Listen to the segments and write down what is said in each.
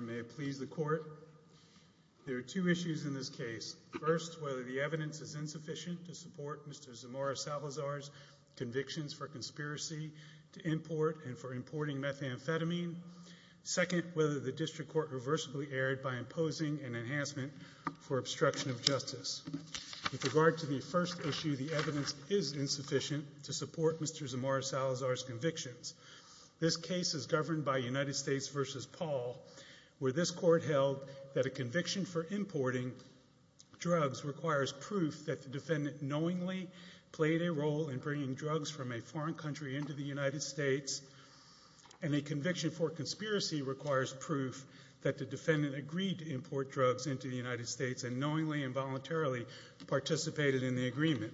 May it please the Court, there are two issues in this case. First, whether the evidence is insufficient to support Mr. Zamora-Salazar's convictions for conspiracy to import and for importing methamphetamine. Second, whether the District Court reversibly erred by imposing an enhancement for obstruction of justice. With regard to the first issue, the evidence is insufficient to support Mr. Zamora-Salazar's convictions. This case is governed by United States v. Paul, where this Court held that a conviction for importing drugs requires proof that the defendant knowingly played a role in bringing drugs from a foreign country into the United States, and a conviction for conspiracy requires proof that the defendant agreed to import drugs into the United States and knowingly and voluntarily participated in the agreement.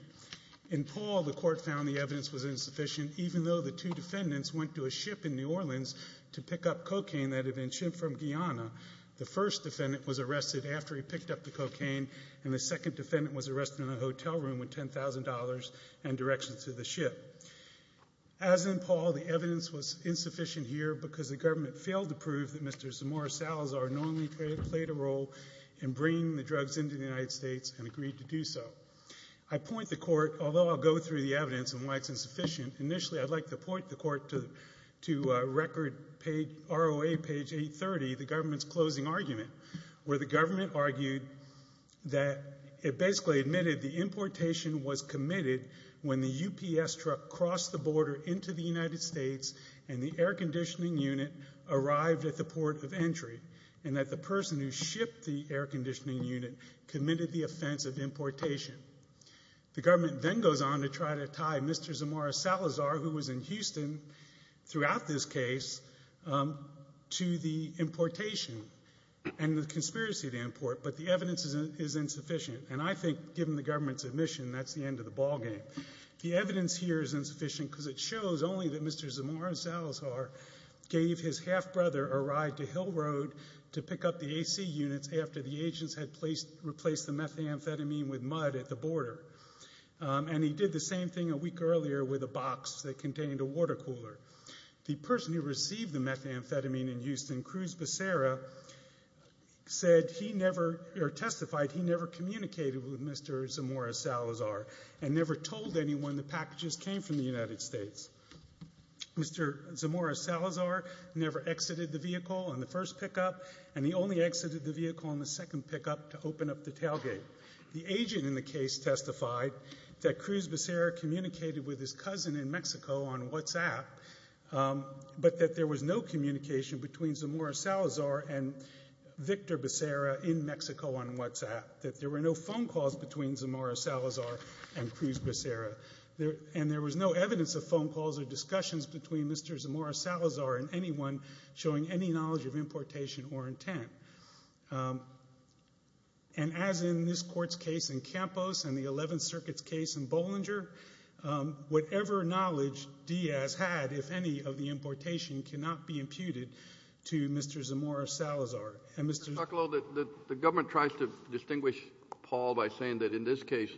In Paul, the Court found the evidence was insufficient even though the two defendants went to a ship in New Orleans to pick up cocaine that had been shipped from Guyana. The first defendant was arrested after he picked up the cocaine, and the second defendant was arrested in a hotel room with $10,000 and directions to the ship. As in Paul, the evidence was insufficient here because the government failed to prove that Mr. Zamora-Salazar knowingly played a role in bringing the drugs into the United States and agreed to do so. I point the Court, although I'll go through the evidence and I'd like to point the Court to record page, ROA page 830, the government's closing argument, where the government argued that it basically admitted the importation was committed when the UPS truck crossed the border into the United States and the air conditioning unit arrived at the port of entry, and that the person who shipped the air conditioning unit committed the offense of importation. The government then goes on to try to tie Mr. Zamora-Salazar, who was in Houston throughout this case, to the importation and the conspiracy to import, but the evidence is insufficient. And I think, given the government's admission, that's the end of the ballgame. The evidence here is insufficient because it shows only that Mr. Zamora-Salazar gave his half-brother a ride to Hill Road to pick up the AC units after the agents had replaced the methamphetamine with mud at the border. And he did the same thing a week earlier with a box that contained a water cooler. The person who received the methamphetamine in Houston, Cruz Becerra, said he never, or testified he never communicated with Mr. Zamora-Salazar and never told anyone the packages came from the United States. Mr. Zamora-Salazar never exited the vehicle on the first pickup, and he only exited the vehicle on the second pickup to open up the tailgate. The agent in the case testified that Cruz Becerra communicated with his cousin in Mexico on WhatsApp, but that there was no communication between Zamora-Salazar and Victor Becerra in Mexico on WhatsApp, that there were no phone calls between Zamora-Salazar and Cruz Becerra, and there was no evidence of phone calls or discussions between Mr. Zamora-Salazar and anyone showing any knowledge of importation or intent. And as in this Court's case in Campos and the Eleventh Circuit's case in Bollinger, whatever knowledge Diaz had, if any, of the importation cannot be imputed to Mr. Zamora-Salazar. Mr. Tucklow, the government tries to distinguish Paul by saying that in this case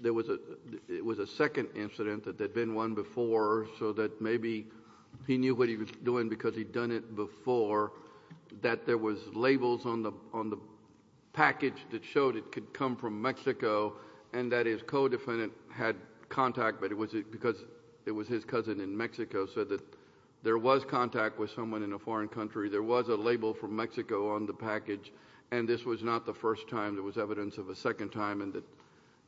there was a second incident, that there had been one before, so that maybe he knew what he was doing because he'd done it before, that there was labels on the package that showed it could come from Mexico, and that his co-defendant had contact, but it was because it was his cousin in Mexico, so that there was contact with someone in a foreign country. There was a label from Mexico on the package, and this was not the first time. There was evidence of a second time, and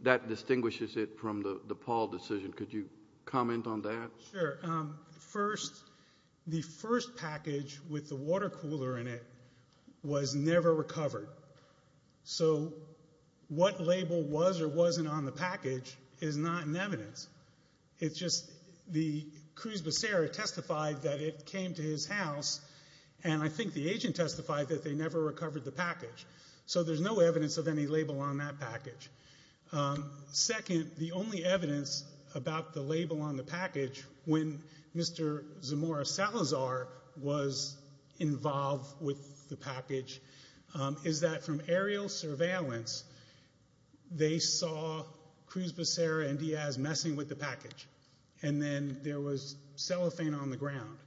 that distinguishes it from the Paul decision. Could you comment on that? Sure. First, the first package with the water cooler in it was never recovered. So what label was or wasn't on the package is not in evidence. It's just the Cruz Becerra testified that it came to his house, and I think the agent testified that they never recovered the package. So there's no evidence of any label on that package. Second, the only evidence about the label on the package when Mr. Zamora Salazar was involved with the package is that from aerial surveillance, they saw Cruz Becerra and Diaz messing with the package, and then there was cellophane on the ground.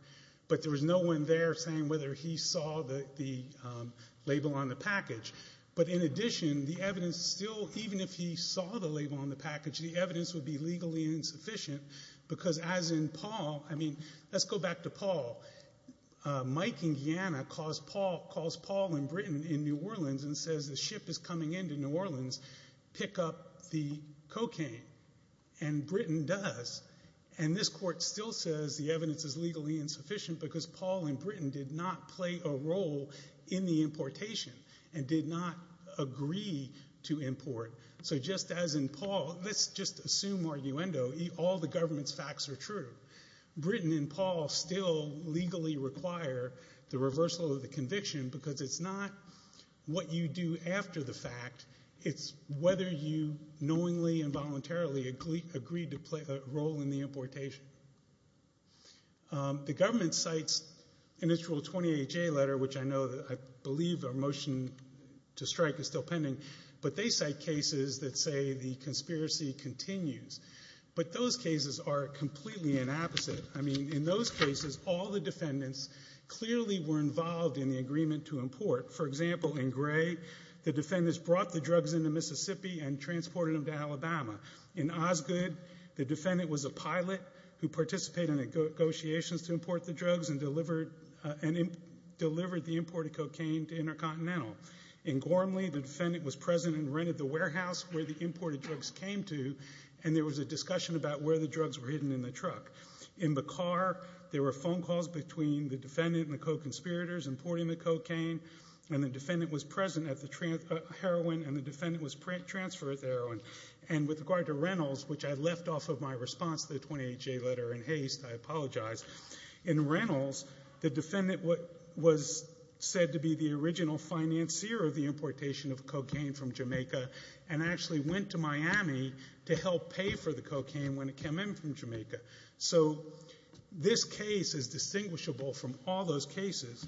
But there was no one there saying whether he saw the label on the package. But in addition, the evidence still, even if he saw the label on the package, the evidence would be legally insufficient because as in Paul, I mean, let's go back to Paul. Mike in Guyana calls Paul in Britain in New Orleans and says the ship is coming into New Orleans, pick up the cocaine, and Britain does. And this court still says the evidence is legally insufficient because Paul in Britain did not play a role in the Well, let's just assume arguendo. All the government's facts are true. Britain and Paul still legally require the reversal of the conviction because it's not what you do after the fact, it's whether you knowingly and voluntarily agreed to play a role in the importation. The government cites an initial 28-J letter, which I know, I believe a motion to strike is still pending, but they cite cases that say the conspiracy continues. But those cases are completely inapposite. I mean, in those cases, all the defendants clearly were involved in the agreement to import. For example, in Gray, the defendants brought the drugs into Mississippi and transported them to Alabama. In Osgoode, the defendant was a pilot who participated in negotiations to import the drugs and delivered the imported cocaine to Alabama. The defendant was present and rented the warehouse where the imported drugs came to, and there was a discussion about where the drugs were hidden in the truck. In Bacar, there were phone calls between the defendant and the co-conspirators importing the cocaine, and the defendant was present at the heroin, and the defendant was transferred the heroin. And with regard to Reynolds, which I left off of my response to the 28-J letter in haste, I apologize, in Reynolds, the defendant was said to be the original financier of the importation of cocaine from Jamaica, and actually went to Miami to help pay for the cocaine when it came in from Jamaica. So this case is distinguishable from all those cases.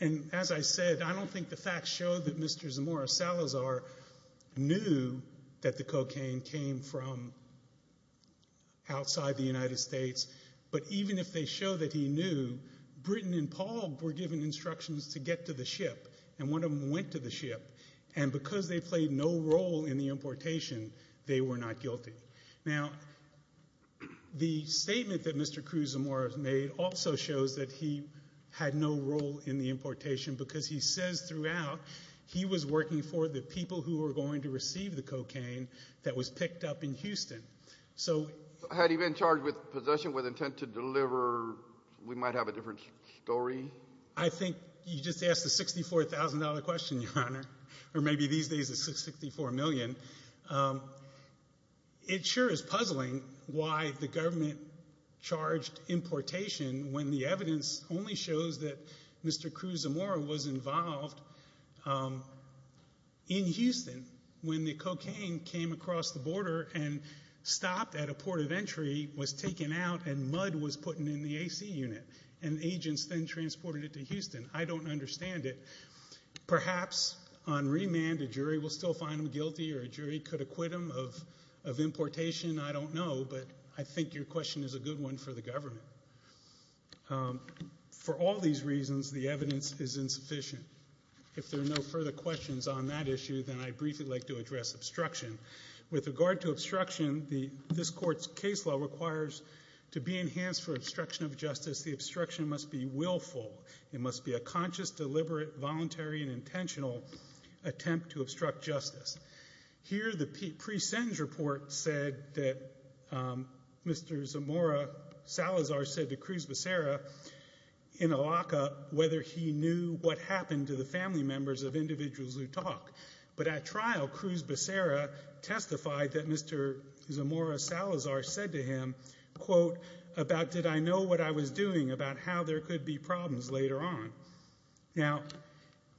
And as I said, I don't think the facts show that Mr. Zamora Salazar knew that the cocaine came from outside the United States, but even if they show that he knew, Britton and Paul were given instructions to get to the ship, and one of them went to the ship, and because they played no role in the importation, they were not guilty. Now, the statement that Mr. Cruz Zamora made also shows that he had no role in the importation, because he says throughout he was working for the people who were going to receive the cocaine that was picked up in Houston. So had he been charged with possession with intent to deliver, we might have a different story. I think you just asked a $64,000 question, Your Honor, or maybe these days it's $64 million. It sure is puzzling why the government charged importation when the evidence only shows that Mr. Cruz Zamora was involved in Houston when the cocaine came across the border and stopped at a port of entry, was taken out, and mud was put in the AC unit, and agents then transported it to Houston. I don't understand it. Perhaps on remand a jury will still find him guilty, or a jury could acquit him of importation. I don't know, but I think your question is a good one for the government. For all these reasons, the evidence is insufficient. If there are no further questions on that issue, then I'd briefly like to address obstruction. With regard to obstruction, this Court's case law requires to be enhanced for obstruction of justice, the obstruction must be willful. It must be a conscious, deliberate, voluntary, and intentional attempt to obstruct justice. Here the pre-sentence report said that Mr. Zamora Salazar said to Cruz Becerra in a lockup whether he knew what happened to the family members of individuals who talk. But at trial, Cruz Becerra testified that Mr. Zamora Salazar said to him, quote, about did I know what I was doing about how there could be problems later on. Now,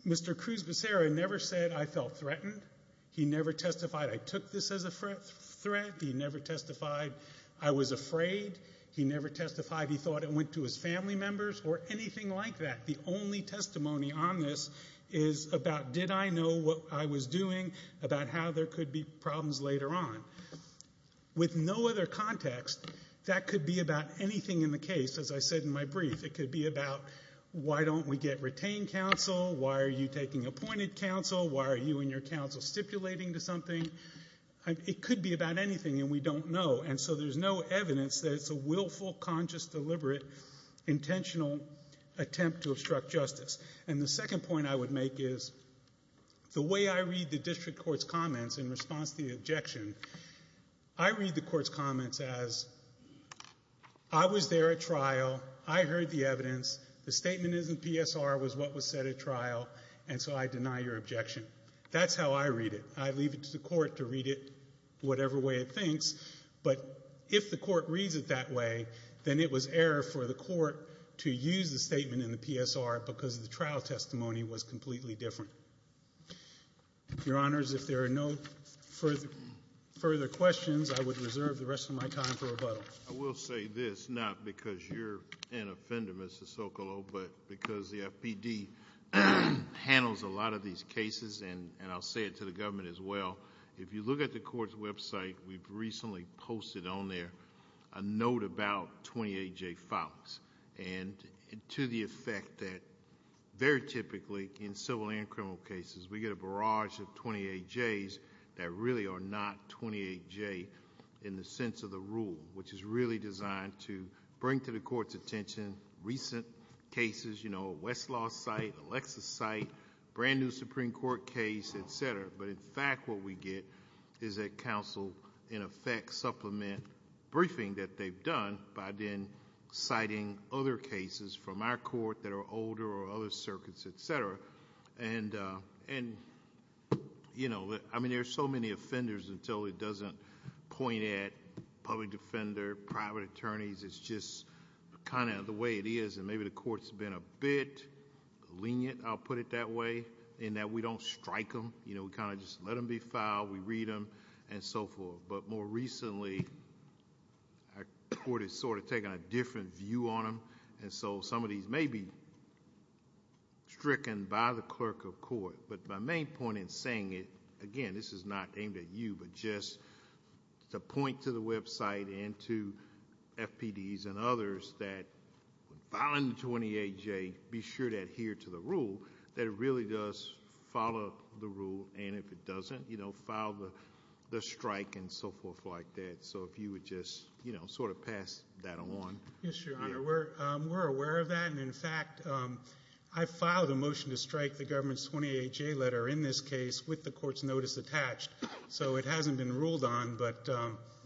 Mr. Cruz Becerra never said I felt threatened. He never testified I took this as a threat. He never testified I was afraid. He never testified he thought it went to his family members, or anything like that. The only testimony on this is about did I know what I was doing about how there could be problems later on. With no other context, that could be about anything in the case. As I said in my brief, it could be about why don't we get retained counsel? Why are you taking appointed counsel? Why are you and your counsel stipulating to something? It could be about anything, and we don't know. And so there's no evidence that it's a willful, conscious, deliberate, intentional attempt to obstruct justice. And the second point I would make is, the way I read the district court's comments in response to the objection, I read the court's comments as, I was there at trial, I heard the evidence, the statement is in PSR was what was said at trial, and so I deny your objection. That's how I read it. I leave it to the court to read it whatever way it thinks, but if the court reads it that way, then it was error for the court to use the statement in the PSR because the trial testimony was completely different. Your Honors, if there are no further questions, I would reserve the rest of my time for rebuttal. I will say this, not because you're an offender, Mr. Socolow, but because the FPD handles a lot of these cases, and I'll say it to the government as well, if you look at the court's website, we've recently posted on there a note about 28J fouls, and to the effect that very typically in civil and criminal cases, we get a barrage of 28Js that really are not 28J in the sense of the rule, which is really designed to bring to the court's attention recent cases, you know, a Westlaw site, a Lexus site, brand new Supreme Court case, et cetera, but in fact what we get is a counsel, in effect, supplement briefing that they've done by then citing other cases from our court that are older or other circuits, et cetera. There are so many offenders until it doesn't point at public defender, private attorneys, it's just kind of the way it is, and maybe the court's been a bit lenient, I'll put it that way, in that we don't strike them, you know, we kind of just let them be fouled, we read them, and so forth, but more recently, our court has sort of taken a different view on them, and so some of these may be stricken by the clerk of court, but my main point in saying it, again, this is not aimed at you, but just to point to the website and to FPDs and others that, filing the 28J, be sure to adhere to the rule, that it really does follow the rule, and if it doesn't, you know, file the strike and so forth like that, so if you would just, you know, sort of pass that on. Yes, Your Honor, we're aware of that, and in fact, I filed a motion to strike the government's 28J letter in this case with the court's notice attached, so it hasn't been ruled on, but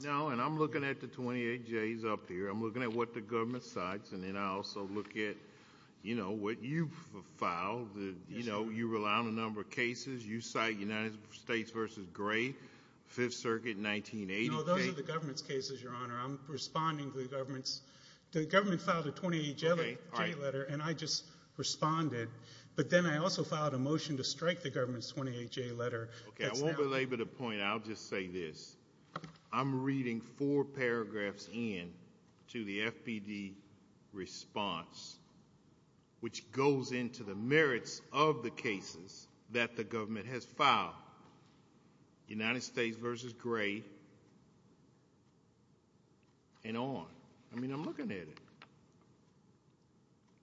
No, and I'm looking at the 28Js up here, I'm looking at what the government cites, and then I also look at, you know, what you've filed, you know, you rely on a number of cases, you cite United States v. Gray, 5th Circuit, 1980. No, those are the government's cases, Your Honor, I'm responding to the government's, the government filed a 28J letter, and I just responded, but then I also filed a motion to strike the government's 28J letter. Okay, I won't belabor the point, I'll just say this, I'm reading four paragraphs in to the FPD response, which goes into the merits of the cases that the government has filed, United States v. Gray, and on. I mean, I'm looking at it.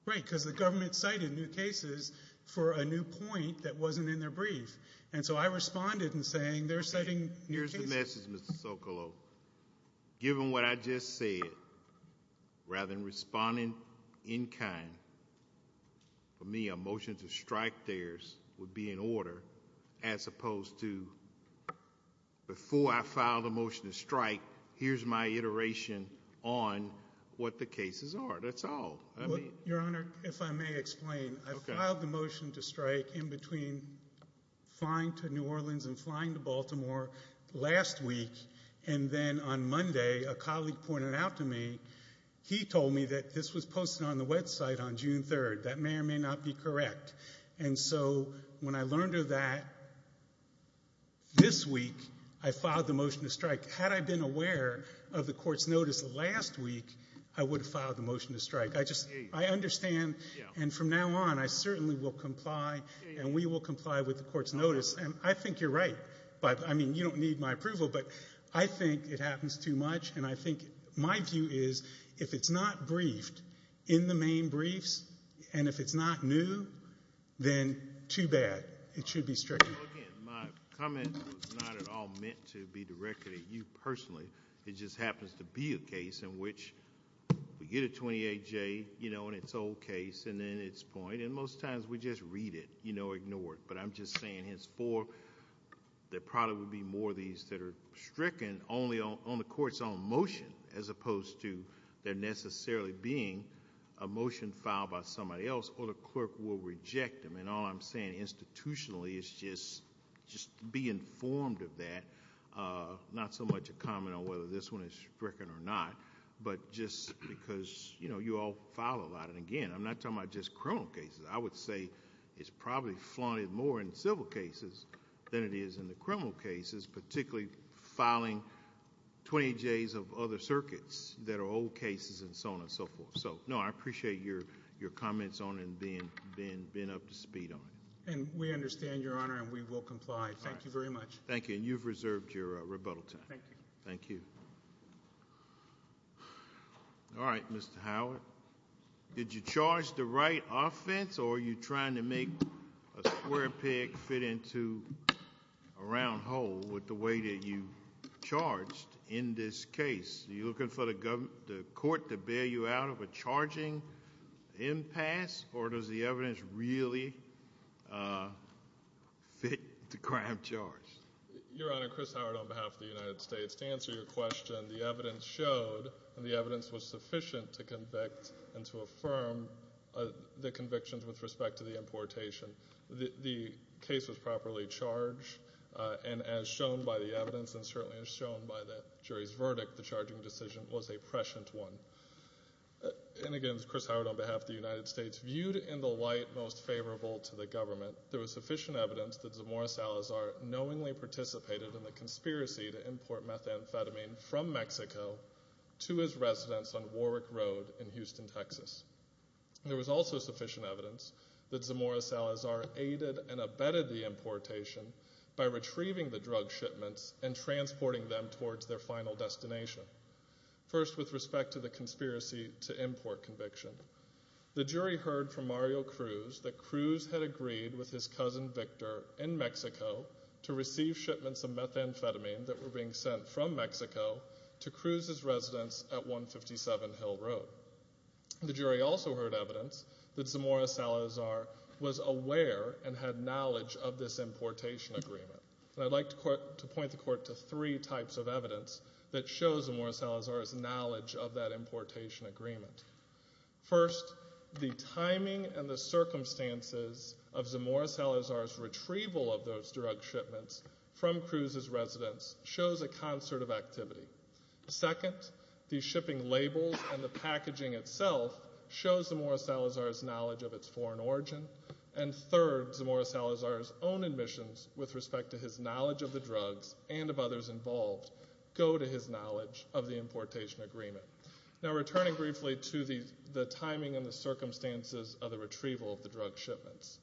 Right, because the government cited new cases for a new point that wasn't in their brief, and so I responded in saying, they're citing new cases. Okay, here's the message, Mr. Socolow, given what I just said, rather than responding in kind, for me, a motion to strike theirs would be in order, as opposed to, before I filed a motion to strike, here's my iteration on what the cases are, that's all, I mean. Well, Your Honor, if I may explain, I filed the motion to strike in between flying to New Orleans and flying to Baltimore last week, and then on Monday, a colleague pointed out to me, he told me that this was posted on the website on June 3rd, that may or may not be correct, and so when I learned of that, this week, I filed the motion to strike. Had I been aware of the court's notice last week, I would have filed the motion to strike. I just, I understand, and from now on, I certainly will comply, and we will comply with the court's notice, and I think you're right, but, I mean, you don't need my approval, but I think it happens too much, and I think, my view is, if it's not briefed in the main briefs, and if it's not new, then too bad, it should be stricken. Well, again, my comment was not at all meant to be directed at you personally, it just came to me. I mean, 28J, you know, in its old case, and then its point, and most times, we just read it, you know, ignore it, but I'm just saying, henceforth, there probably will be more of these that are stricken only on the court's own motion, as opposed to there necessarily being a motion filed by somebody else, or the clerk will reject them, and all I'm saying institutionally is just be informed of that, not so much a comment on whether this one is stricken or not, but just because, you know, you all file a lot, and again, I'm not talking about just criminal cases, I would say it's probably flaunted more in civil cases than it is in the criminal cases, particularly filing 28Js of other circuits that are old cases and so on and so forth, so, no, I appreciate your comments on it, and being up to speed on it. And we understand, Your Honor, and we will comply, thank you very much. Thank you, and you've reserved your rebuttal time. Thank you. All right, Mr. Howard, did you charge the right offense, or are you trying to make a square peg fit into a round hole with the way that you charged in this case? Are you looking for the court to bail you out of a charging impasse, or does the evidence really fit the crime charge? Your Honor, Chris Howard on behalf of the United States, to answer your question, the evidence showed, and the evidence was sufficient to convict and to affirm the convictions with respect to the importation. The case was properly charged, and as shown by the evidence, and certainly as shown by the jury's verdict, the charging decision was a prescient one. And again, Chris Howard on behalf of the United States, viewed in the light most favorable to the government, there was sufficient evidence that Zamora Salazar knowingly participated in the conspiracy to import methamphetamine from Mexico to his residence on Warwick Road in Houston, Texas. There was also sufficient evidence that Zamora Salazar aided and abetted the importation by retrieving the drug shipments and transporting them towards their final destination. First with respect to the conspiracy to import conviction, the jury heard from Mario Cruz that Cruz had agreed with his cousin Victor in Mexico to receive shipments of methamphetamine that were being sent from Mexico to Cruz's residence at 157 Hill Road. The jury also heard evidence that Zamora Salazar was aware and had knowledge of this importation agreement. And I'd like to point the Court to three types of evidence that shows Zamora Salazar's knowledge of that importation agreement. First, the timing and the circumstances of Zamora Salazar's retrieval of those drug shipments from Cruz's residence shows a concert of activity. Second, the shipping labels and the packaging itself shows Zamora Salazar's knowledge of its foreign origin. And third, Zamora Salazar's own admissions with respect to his knowledge of the drugs and of others involved go to his knowledge of the importation agreement. Now returning briefly to the timing and the circumstances of the retrieval of the drug shipments,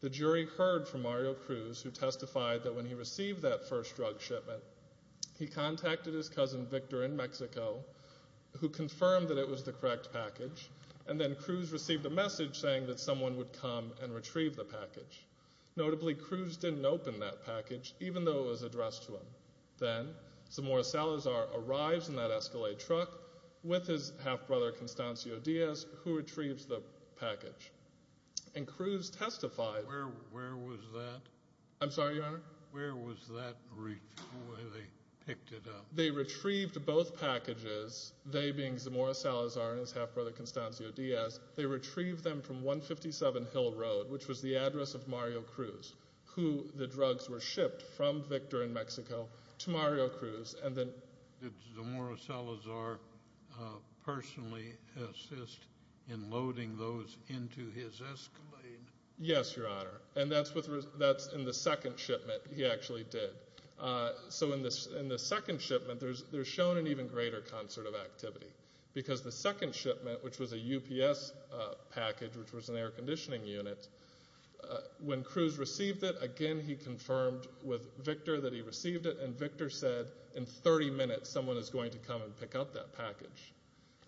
the jury heard from Mario Cruz, who testified that when he received that first drug shipment, he contacted his cousin Victor in Mexico, who confirmed that it was the correct package, and then Cruz received a message saying that someone would come and retrieve the package. Notably, Cruz didn't open that package, even though it was addressed to him. Then, Zamora Salazar arrives in that Escalade truck with his half-brother, Constancio Diaz, who retrieves the package. And Cruz testified... Where was that? I'm sorry, Your Honor? Where was that retrieval when they picked it up? They retrieved both packages, they being Zamora Salazar and his half-brother, Constancio Diaz. They retrieved them from 157 Hill Road, which was the address of Mario Cruz, who the drugs were shipped from Victor in Mexico to Mario Cruz. And then... Did Zamora Salazar personally assist in loading those into his Escalade? Yes, Your Honor. And that's in the second shipment he actually did. So in the second shipment, there's shown an even greater concert of activity. Because the second shipment, which was a UPS package, which was an air conditioning unit, when Cruz received it, again, he confirmed with Victor that he received it. And Victor said, in 30 minutes, someone is going to come and pick up that package.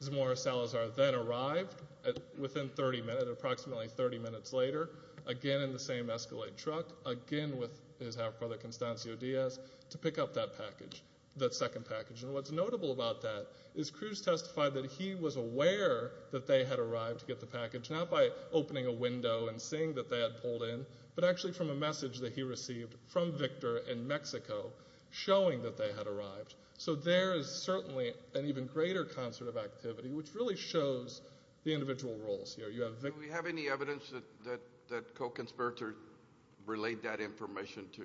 Zamora Salazar then arrived within 30 minutes, approximately 30 minutes later, again in the same Escalade truck, again with his half-brother, Constancio Diaz, to pick up that package, that second package. And what's notable about that is Cruz testified that he was aware that they had arrived to Mexico, not by opening a window and seeing that they had pulled in, but actually from a message that he received from Victor in Mexico showing that they had arrived. So there is certainly an even greater concert of activity, which really shows the individual roles here. Do we have any evidence that co-conspirators relayed that information to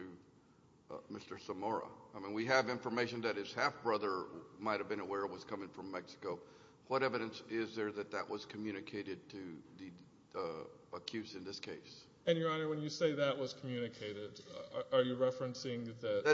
Mr. Zamora? I mean, we have information that his half-brother might have been aware it was coming from Mexico. What evidence is there that that was communicated to the accused in this case? And, Your Honor, when you say that was communicated, are you referencing that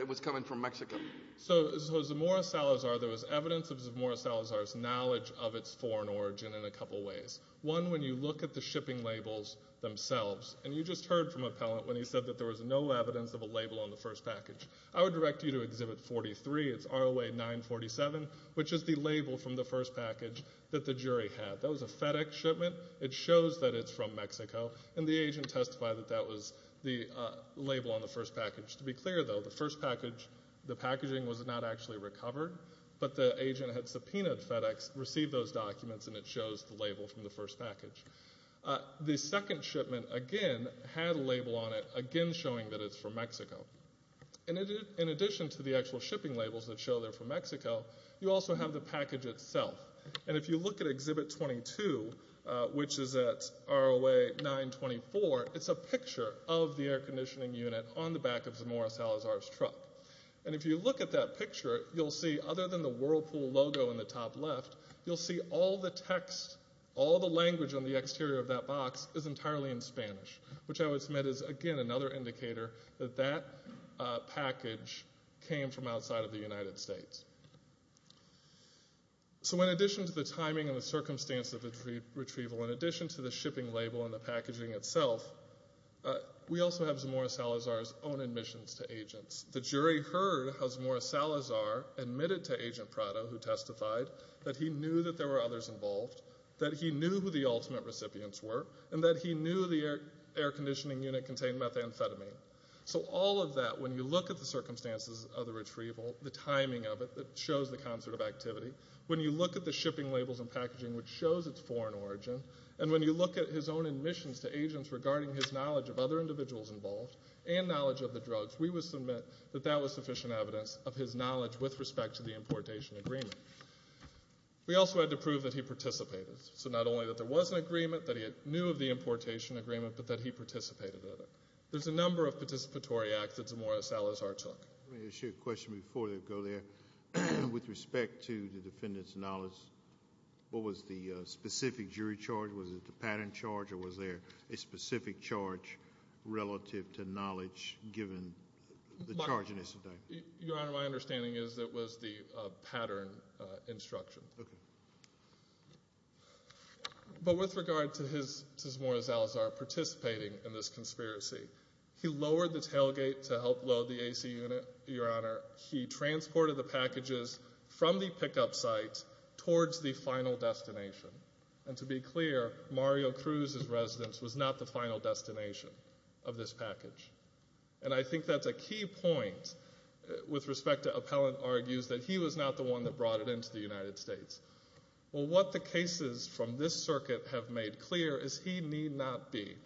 it was coming from Mexico? So, Zamora Salazar, there was evidence of Zamora Salazar's knowledge of its foreign origin in a couple ways. One, when you look at the shipping labels themselves, and you just heard from Appellant when he said that there was no evidence of a label on the first package. I would direct you to Exhibit 43, it's ROA 947, which is the label from the first package that the jury had. That was a FedEx shipment. It shows that it's from Mexico, and the agent testified that that was the label on the first package. To be clear, though, the first package, the packaging was not actually recovered, but the agent had subpoenaed FedEx, received those documents, and it shows the label from the first package. The second shipment, again, had a label on it, again showing that it's from Mexico. In addition to the actual shipping labels that show they're from Mexico, you also have the package itself. If you look at Exhibit 22, which is at ROA 924, it's a picture of the air conditioning unit on the back of Zamora Salazar's truck. If you look at that picture, you'll see, other than the Whirlpool logo in the top left, you'll see all the text, all the language on the exterior of that box is entirely in Spanish, which I would submit is, again, another indicator that that package came from outside of the United States. So in addition to the timing and the circumstance of the retrieval, in addition to the shipping label and the packaging itself, we also have Zamora Salazar's own admissions to agents. The jury heard how Zamora Salazar admitted to Agent Prado, who testified, that he knew that there were others involved, that he knew who the ultimate recipients were, and that he knew the air conditioning unit contained methamphetamine. So all of that, when you look at the circumstances of the retrieval, the timing of it that shows the concert of activity, when you look at the shipping labels and packaging which shows its foreign origin, and when you look at his own admissions to agents regarding his knowledge of other individuals involved and knowledge of the drugs, we would submit that that was sufficient evidence of his knowledge with respect to the importation agreement. We also had to prove that he participated. So not only that there was an agreement, that he knew of the importation agreement, but that he participated in it. There's a number of participatory acts that Zamora Salazar took. Let me ask you a question before we go there. With respect to the defendant's knowledge, what was the specific jury charge? Was it the pattern charge, or was there a specific charge relative to knowledge given the charge yesterday? Your Honor, my understanding is it was the pattern instruction. Okay. But with regard to Zamora Salazar participating in this conspiracy, he lowered the tailgate to help load the AC unit, Your Honor. He transported the packages from the pickup site towards the final destination. And to be clear, Mario Cruz's residence was not the final destination of this package. And I think that's a key point with respect to appellant argues that he was not the one that brought it into the United States. Well, what the cases from this circuit have made clear is he need not be.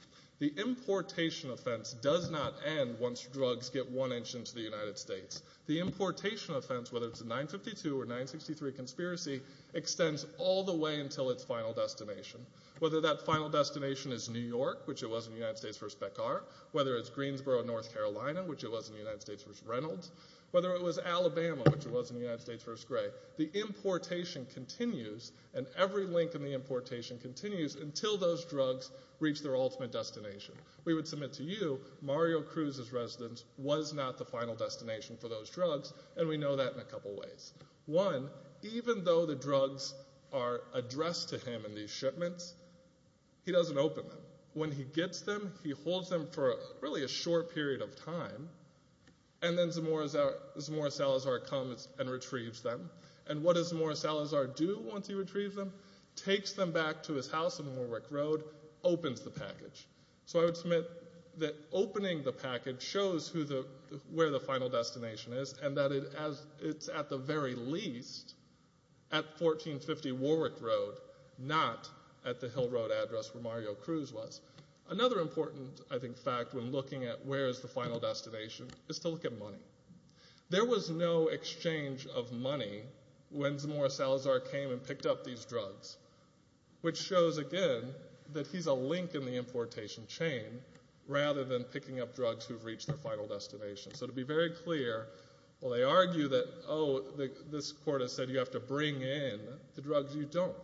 The importation offense does not end once drugs get one inch into the United States. The importation offense, whether it's a 952 or 963 conspiracy, extends all the way until its final destination. Whether that final destination is New York, which it was in the United States v. Pekar, whether it's Greensboro, North Carolina, which it was in the United States v. Reynolds, whether it was Alabama, which it was in the United States v. Gray, the importation continues and every link in the importation continues until those drugs reach their ultimate destination. We would submit to you Mario Cruz's residence was not the final destination for those drugs, and we know that in a couple ways. One, even though the drugs are addressed to him in these shipments, he doesn't open them. When he gets them, he holds them for really a short period of time, and then Zamora Salazar comes and retrieves them. And what does Zamora Salazar do once he retrieves them? Takes them back to his house on Warwick Road, opens the package. So I would submit that opening the package shows where the final destination is, and that it's at the very least at 1450 Warwick Road, not at the Hill Road address where Mario Cruz was. Another important, I think, fact when looking at where is the final destination is to look at money. There was no exchange of money when Zamora Salazar came and picked up these drugs, which shows again that he's a link in the importation chain rather than picking up drugs who've reached their final destination. So to be very clear, while they argue that, oh, this court has said you have to bring in the drugs, you don't.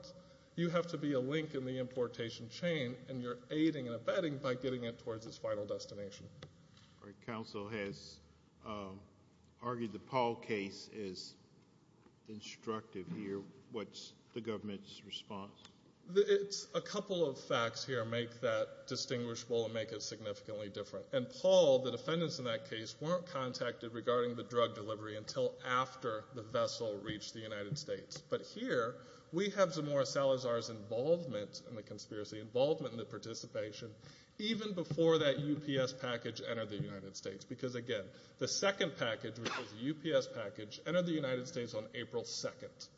You have to be a link in the importation chain, and you're aiding and abetting by getting it towards its final destination. Counsel has argued the Paul case is instructive here. What's the government's response? It's a couple of facts here make that distinguishable and make it significantly different. And Paul, the defendants in that case, weren't contacted regarding the drug delivery until after the vessel reached the United States. But here, we have Zamora Salazar's involvement in the conspiracy, involvement in the participation, even before that UPS package entered the United States. Because again, the second package, which was a UPS package, entered the United States on April 2nd.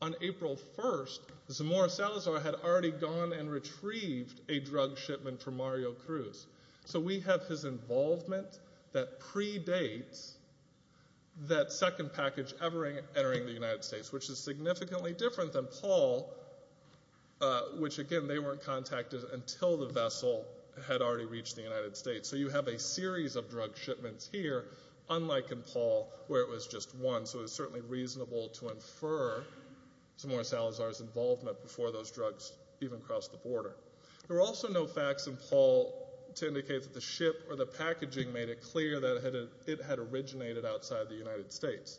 On April 1st, Zamora Salazar had already gone and retrieved a drug shipment for Mario Cruz. So we have his involvement that predates that second package ever entering the United States, which is significantly different than Paul, which again, they weren't contacted until the vessel had already reached the United States. So you have a series of drug shipments here, unlike in Paul, where it was just one. So it was certainly reasonable to infer Zamora Salazar's involvement before those drugs even crossed the border. There were also no facts in Paul to indicate that the ship or the packaging made it clear that it had originated outside the United States.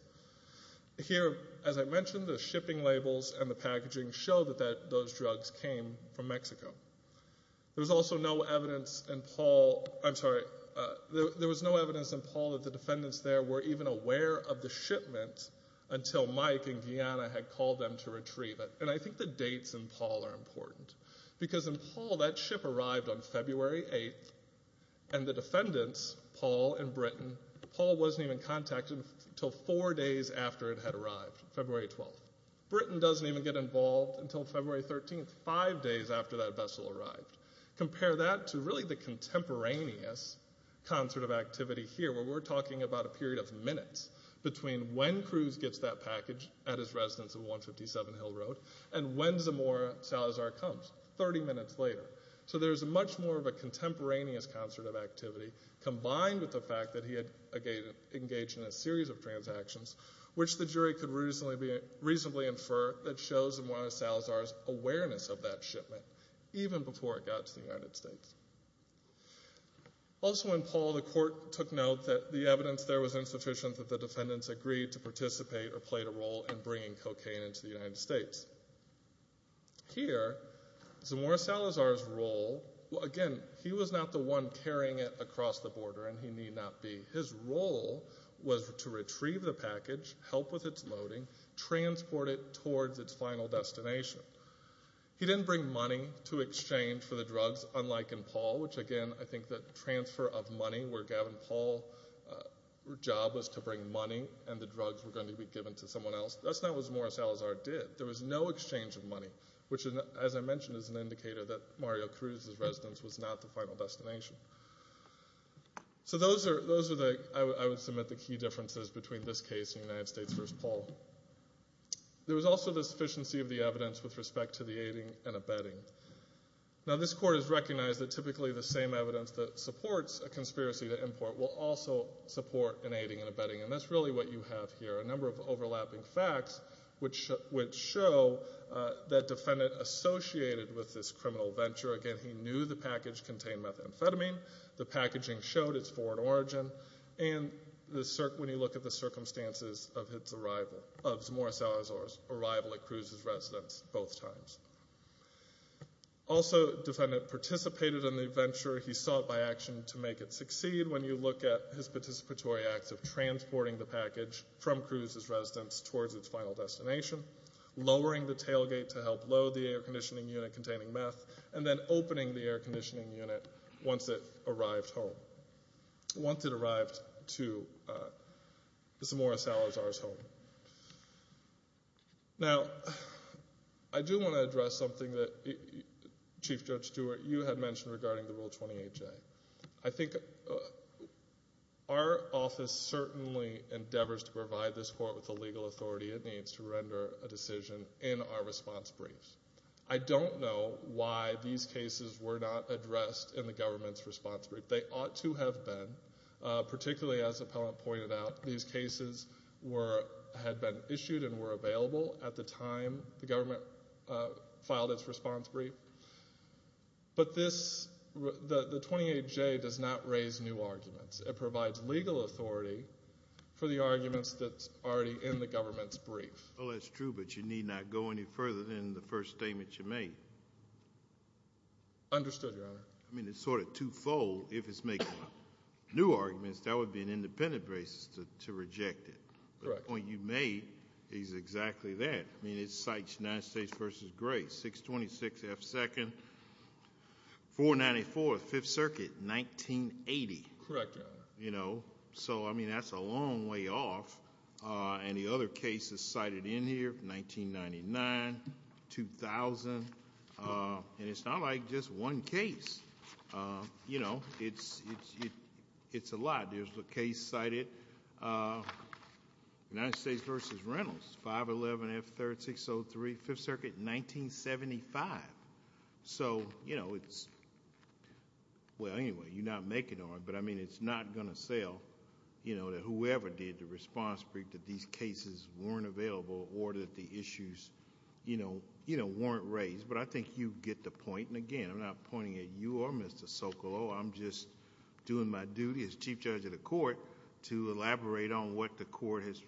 Here, as I mentioned, the shipping labels and the packaging show that those drugs came from Mexico. There was also no evidence in Paul, I'm sorry, there was no evidence in Paul that the defendants there were even aware of the shipment until Mike and Guyana had called them to retrieve it. And I think the dates in Paul are important. Because in Paul, that ship arrived on February 8th, and the defendants, Paul and Britton, Paul wasn't even contacted until four days after it had arrived, February 12th. Britton doesn't even get involved until February 13th, five days after that vessel arrived. Compare that to really the contemporaneous concert of activity here, where we're talking about a period of minutes between when Cruz gets that package at his residence at 157 Hill Road, and when Zamora Salazar comes, 30 minutes later. So there's much more of a contemporaneous concert of activity, combined with the fact that he had engaged in a series of transactions, which the jury could reasonably infer that shows Zamora Salazar's awareness of that shipment, even before it got to the United States. Also in Paul, the court took note that the evidence there was insufficient that the defendants agreed to participate or play a role in bringing cocaine into the United States. Here, Zamora Salazar's role, again, he was not the one carrying it across the border, and he need not be. His role was to retrieve the package, help with its loading, transport it towards its final destination. He didn't bring money to exchange for the drugs, unlike in Paul, which again, I think the transfer of money, where Gavin Paul's job was to bring money and the drugs were going to be given to someone else, that's not what Zamora Salazar did. There was no exchange of money, which, as I mentioned, is an indicator that Mario Cruz's final destination. So those are, I would submit, the key differences between this case and United States v. Paul. There was also the sufficiency of the evidence with respect to the aiding and abetting. Now this court has recognized that typically the same evidence that supports a conspiracy to import will also support an aiding and abetting, and that's really what you have here, a number of overlapping facts, which show that defendant associated with this criminal venture, again, he knew the package contained methamphetamine, the packaging showed its foreign origin, and when you look at the circumstances of Zamora Salazar's arrival at Cruz's residence both times. Also defendant participated in the venture, he sought by action to make it succeed when you look at his participatory acts of transporting the package from Cruz's residence towards its final destination, lowering the tailgate to help load the air conditioning unit containing meth, and then opening the air conditioning unit once it arrived home, once it arrived to Zamora Salazar's home. Now I do want to address something that Chief Judge Stewart, you had mentioned regarding the Rule 28J. I think our office certainly endeavors to provide this court with the legal authority it needs to render a decision in our response briefs. I don't know why these cases were not addressed in the government's response brief. They ought to have been, particularly as Appellant pointed out, these cases were, had been issued and were available at the time the government filed its response brief, but this, the 28J does not raise new arguments. It provides legal authority for the arguments that's already in the government's brief. Well, that's true, but you need not go any further than the first statement you made. Understood, Your Honor. I mean, it's sort of two-fold. If it's making new arguments, that would be an independent basis to reject it. Correct. The point you made is exactly that. I mean, it cites United States v. Grace, 626 F. 2nd, 494 Fifth Circuit, 1980. Correct, Your Honor. You know, so I mean, that's a long way off. And the other cases cited in here, 1999, 2000, and it's not like just one case. You know, it's a lot. There's a case cited, United States v. Reynolds, 511 F. 3rd, 603 Fifth Circuit, 1975. So, you know, it's, well, anyway, you're not making on it, but I mean, it's not going to sell, you know, that whoever did the response brief that these cases weren't available or that the issues, you know, weren't raised. But I think you get the point, and again, I'm not pointing at you or Mr. Socolow. I'm just doing my duty as Chief Judge of the court to elaborate on what the court has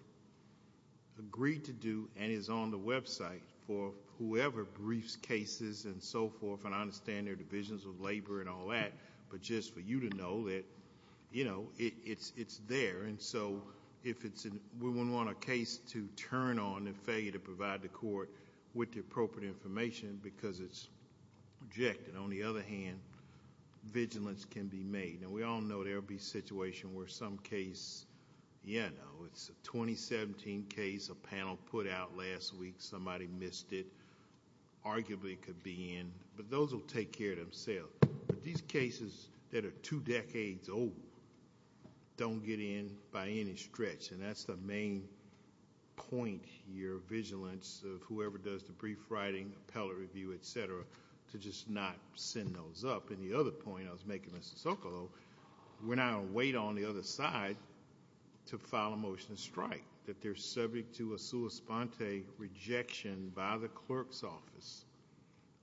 agreed to do and is on the website for whoever briefs cases and so forth. And I understand their divisions of labor and all that, but just for you to know that, you know, it's there. And so, if it's, we wouldn't want a case to turn on and fail you to provide the court with the appropriate information because it's rejected. On the other hand, vigilance can be made. Now, we all know there will be situations where some case, you know, it's a 2017 case, a panel put out last week, somebody missed it, arguably could be in. But those will take care of themselves. But these cases that are two decades old don't get in by any stretch. And that's the main point here, vigilance of whoever does the brief writing, appellate review, etc., to just not send those up. And the other point I was making, Mr. Socolow, we're not going to wait on the other side to file a motion to strike. That they're subject to a sua sponte rejection by the clerk's office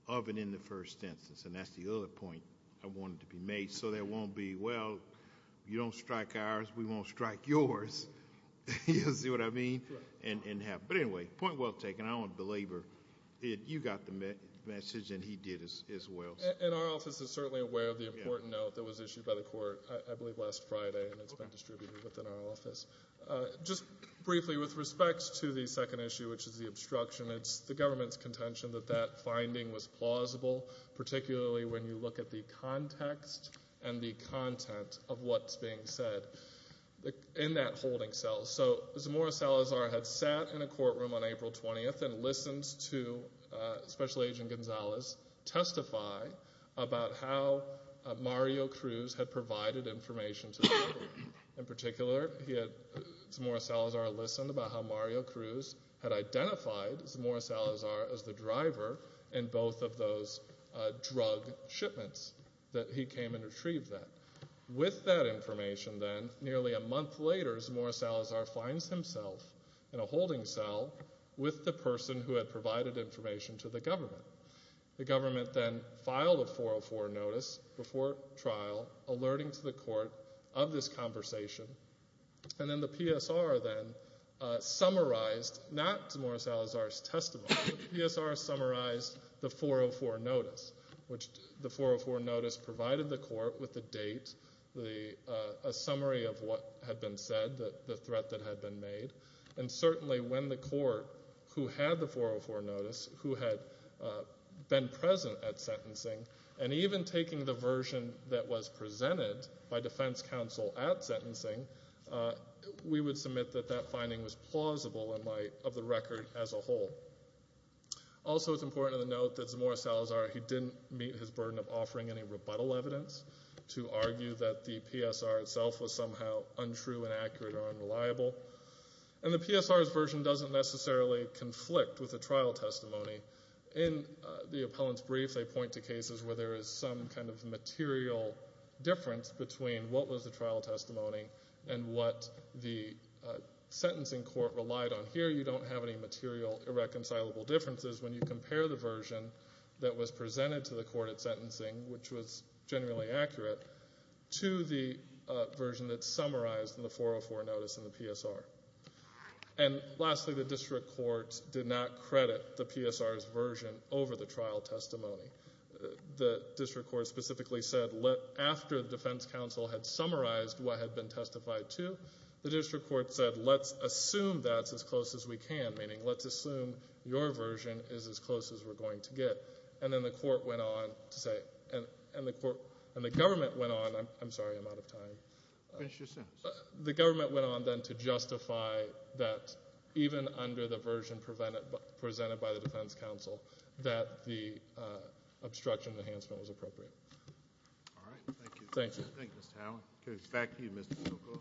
of and in the first instance. And that's the other point I wanted to be made. So, there won't be, well, you don't strike ours, we won't strike yours, you see what I mean? And have, but anyway, point well taken. I don't belabor, you got the message and he did as well. And our office is certainly aware of the important note that was issued by the court, I believe last Friday, and it's been distributed within our office. Just briefly, with respects to the second issue, which is the obstruction, it's the government's contention that that finding was plausible, particularly when you look at the context and the content of what's being said in that holding cell. So Zamora Salazar had sat in a courtroom on April 20th and listens to Special Agent Gonzalez testify about how Mario Cruz had provided information to the public. In particular, Zamora Salazar listened about how Mario Cruz had identified Zamora Salazar as the driver in both of those drug shipments that he came and retrieved that. With that information then, nearly a month later, Zamora Salazar finds himself in a holding cell with the person who had provided information to the government. The government then filed a 404 notice before trial, alerting to the court of this conversation. And then the PSR then summarized, not Zamora Salazar's testimony, the PSR summarized the 404 notice, which the 404 notice provided the court with the date, a summary of what had been said, the threat that had been made. And certainly when the court who had the 404 notice, who had been present at sentencing, and even taking the version that was presented by defense counsel at sentencing, we would submit that that finding was plausible in light of the record as a whole. Also it's important to note that Zamora Salazar, he didn't meet his burden of offering any rebuttal evidence to argue that the PSR itself was somehow untrue and accurate or unreliable. And the PSR's version doesn't necessarily conflict with the trial testimony. In the appellant's brief, they point to cases where there is some kind of material difference between what was the trial testimony and what the sentencing court relied on. Here you don't have any material irreconcilable differences. When you compare the version that was presented to the court at sentencing, which was generally accurate, to the version that's summarized in the 404 notice in the PSR. And lastly, the district court did not credit the PSR's version over the trial testimony. The district court specifically said after the defense counsel had summarized what had been testified to, the district court said let's assume that's as close as we can, meaning let's assume your version is as close as we're going to get. And then the court went on to say, and the court, and the government went on, I'm sorry, I'm out of time. Finish your sentence. The government went on then to justify that even under the version presented by the defense counsel that the obstruction enhancement was appropriate. All right, thank you. Thank you. Thank you, Mr. Howell. Okay, back to you, Mr. Sokol.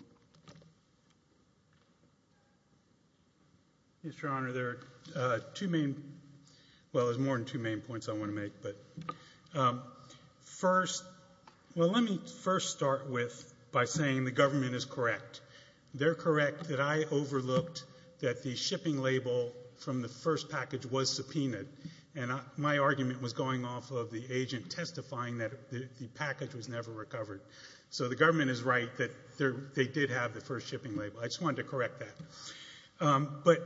Mr. Honor, there are two main, well, there's more than two main points I want to make. But first, well, let me first start with by saying the government is correct. They're correct that I overlooked that the shipping label from the first package was subpoenaed. And my argument was going off of the agent testifying that the package was never recovered. So the government is right that they did have the first shipping label. I just wanted to correct that. But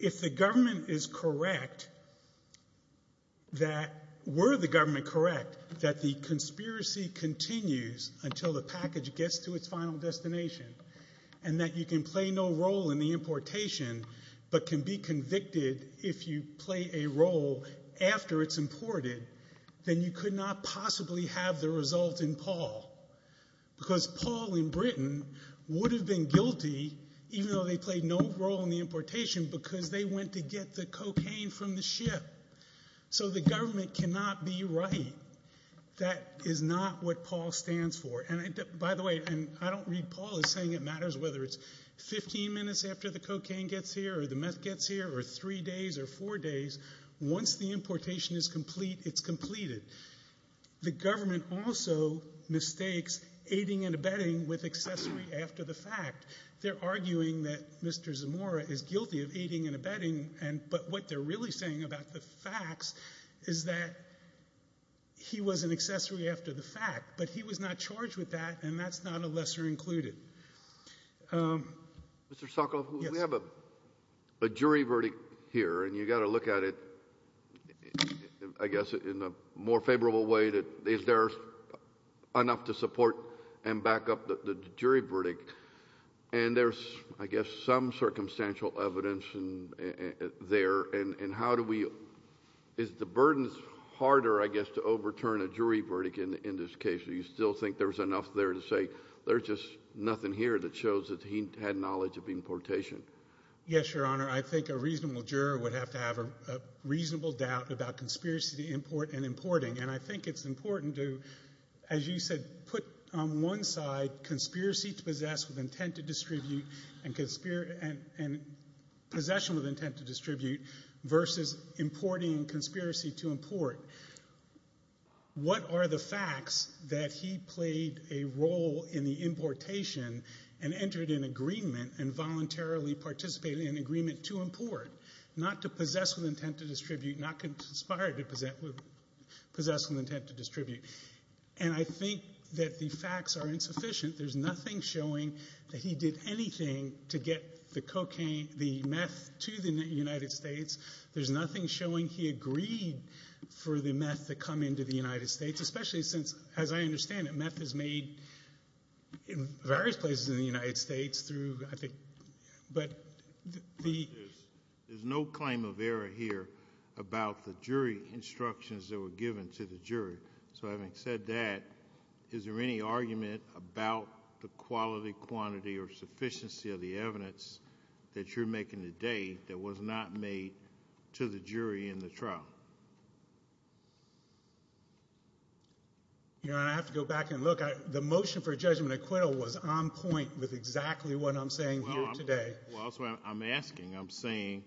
if the government is correct that, were the government correct that the conspiracy continues until the package gets to its final destination and that you can play no role in the importation but can be convicted if you play a role after it's imported, then you could not possibly have the result in Paul. Because Paul in Britain would have been guilty even though they played no role in the importation because they went to get the cocaine from the ship. So the government cannot be right. That is not what Paul stands for. And by the way, and I don't read Paul as saying it matters whether it's 15 minutes after the cocaine gets here or the meth gets here or three days or four days. Once the importation is complete, it's completed. The government also mistakes aiding and abetting with accessory after the fact. They're arguing that Mr. Zamora is guilty of aiding and abetting, but what they're really saying about the facts is that he was an accessory after the fact. But he was not charged with that, and that's not a lesser included. Mr. Sokoloff, we have a jury verdict here, and you got to look at it, I guess, in a more favorable way that is there enough to support and back up the jury verdict. And there's, I guess, some circumstantial evidence there. And how do we, is the burden harder, I guess, to overturn a jury verdict in this case? Do you still think there's enough there to say there's just nothing here that shows that he had knowledge of importation? Yes, Your Honor. I think a reasonable juror would have to have a reasonable doubt about conspiracy to import and importing. And I think it's important to, as you said, put on one side conspiracy to possess with intent versus importing conspiracy to import. What are the facts that he played a role in the importation and entered an agreement and voluntarily participated in an agreement to import, not to possess with intent to distribute, not conspired to possess with intent to distribute? And I think that the facts are insufficient. There's nothing showing that he did anything to get the cocaine, the meth, to the United States. There's nothing showing he agreed for the meth to come into the United States, especially since, as I understand it, meth is made in various places in the United States through, I think. But the- There's no claim of error here about the jury instructions that were given to the jury. So having said that, is there any argument about the quality, quantity, or sufficiency of the evidence that you're making today that was not made to the jury in the trial? Your Honor, I have to go back and look. The motion for judgment acquittal was on point with exactly what I'm saying here today. Well, that's what I'm asking. I'm saying,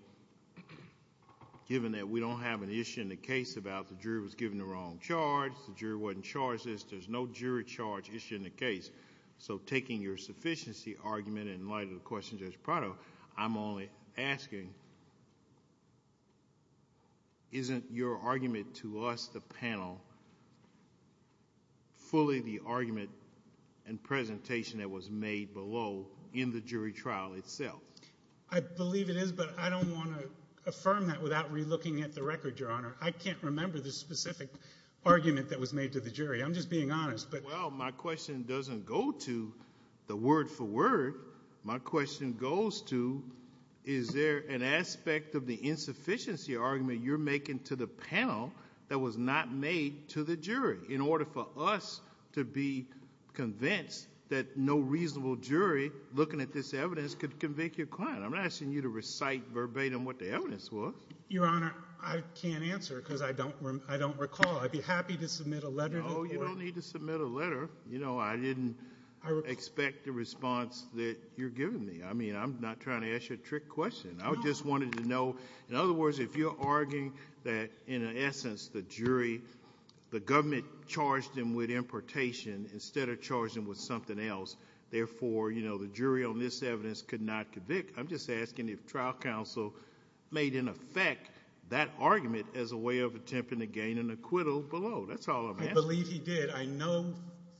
given that we don't have an issue in the case about the jury was given the wrong charge, the jury wasn't charged this, there's no jury charge issue in the case. So taking your sufficiency argument in light of the question, Judge Prado, I'm only asking, isn't your argument to us, the panel, fully the argument and presentation that was made below in the jury trial itself? I believe it is, but I don't want to affirm that without re-looking at the record, Your Honor. I can't remember the specific argument that was made to the jury. I'm just being honest, but- Well, my question doesn't go to the word for word. My question goes to, is there an aspect of the insufficiency argument you're making to the panel that was not made to the jury in order for us to be convinced that no reasonable jury, looking at this evidence, could convict your client? I'm not asking you to recite verbatim what the evidence was. Your Honor, I can't answer because I don't recall. I'd be happy to submit a letter to the court. No, you don't need to submit a letter. I didn't expect the response that you're giving me. I mean, I'm not trying to ask you a trick question. I just wanted to know, in other words, if you're arguing that, in essence, the jury, the government charged them with importation instead of charging them with something else. Therefore, the jury on this evidence could not convict. I'm just asking if trial counsel made in effect that argument as a way of attempting to gain an acquittal below. That's all I'm asking. I believe he did. I know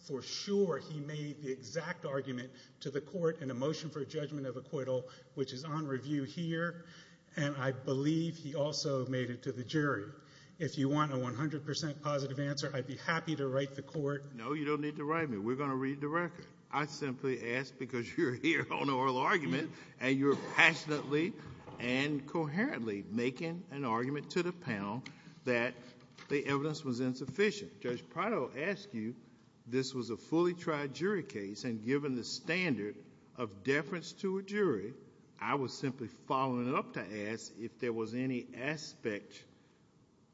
for sure he made the exact argument to the court in a motion for a judgment of acquittal, which is on review here. And I believe he also made it to the jury. If you want a 100% positive answer, I'd be happy to write the court. No, you don't need to write me. We're going to read the record. I simply ask because you're here on oral argument. And you're passionately and coherently making an argument to the panel that the evidence was insufficient. Judge Prado asked you, this was a fully tried jury case. And given the standard of deference to a jury, I was simply following it up to ask if there was any aspect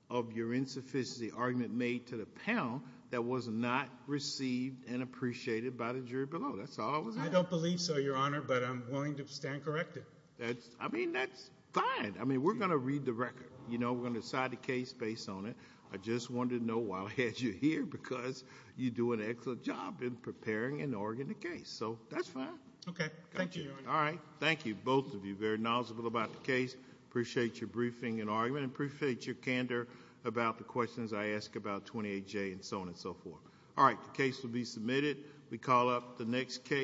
of your insufficiency argument made to the panel that was not received and appreciated by the jury below. That's all I was asking. I don't believe so, Your Honor. But I'm willing to stand corrected. I mean, that's fine. I mean, we're going to read the record. You know, we're going to decide the case based on it. I just wanted to know why I had you here, because you do an excellent job in preparing an organic case. So that's fine. Okay, thank you, Your Honor. All right, thank you both of you. Very knowledgeable about the case. Appreciate your briefing and argument, and appreciate your candor about the questions I ask about 28J and so on and so forth. All right, the case will be submitted. We call up the next case.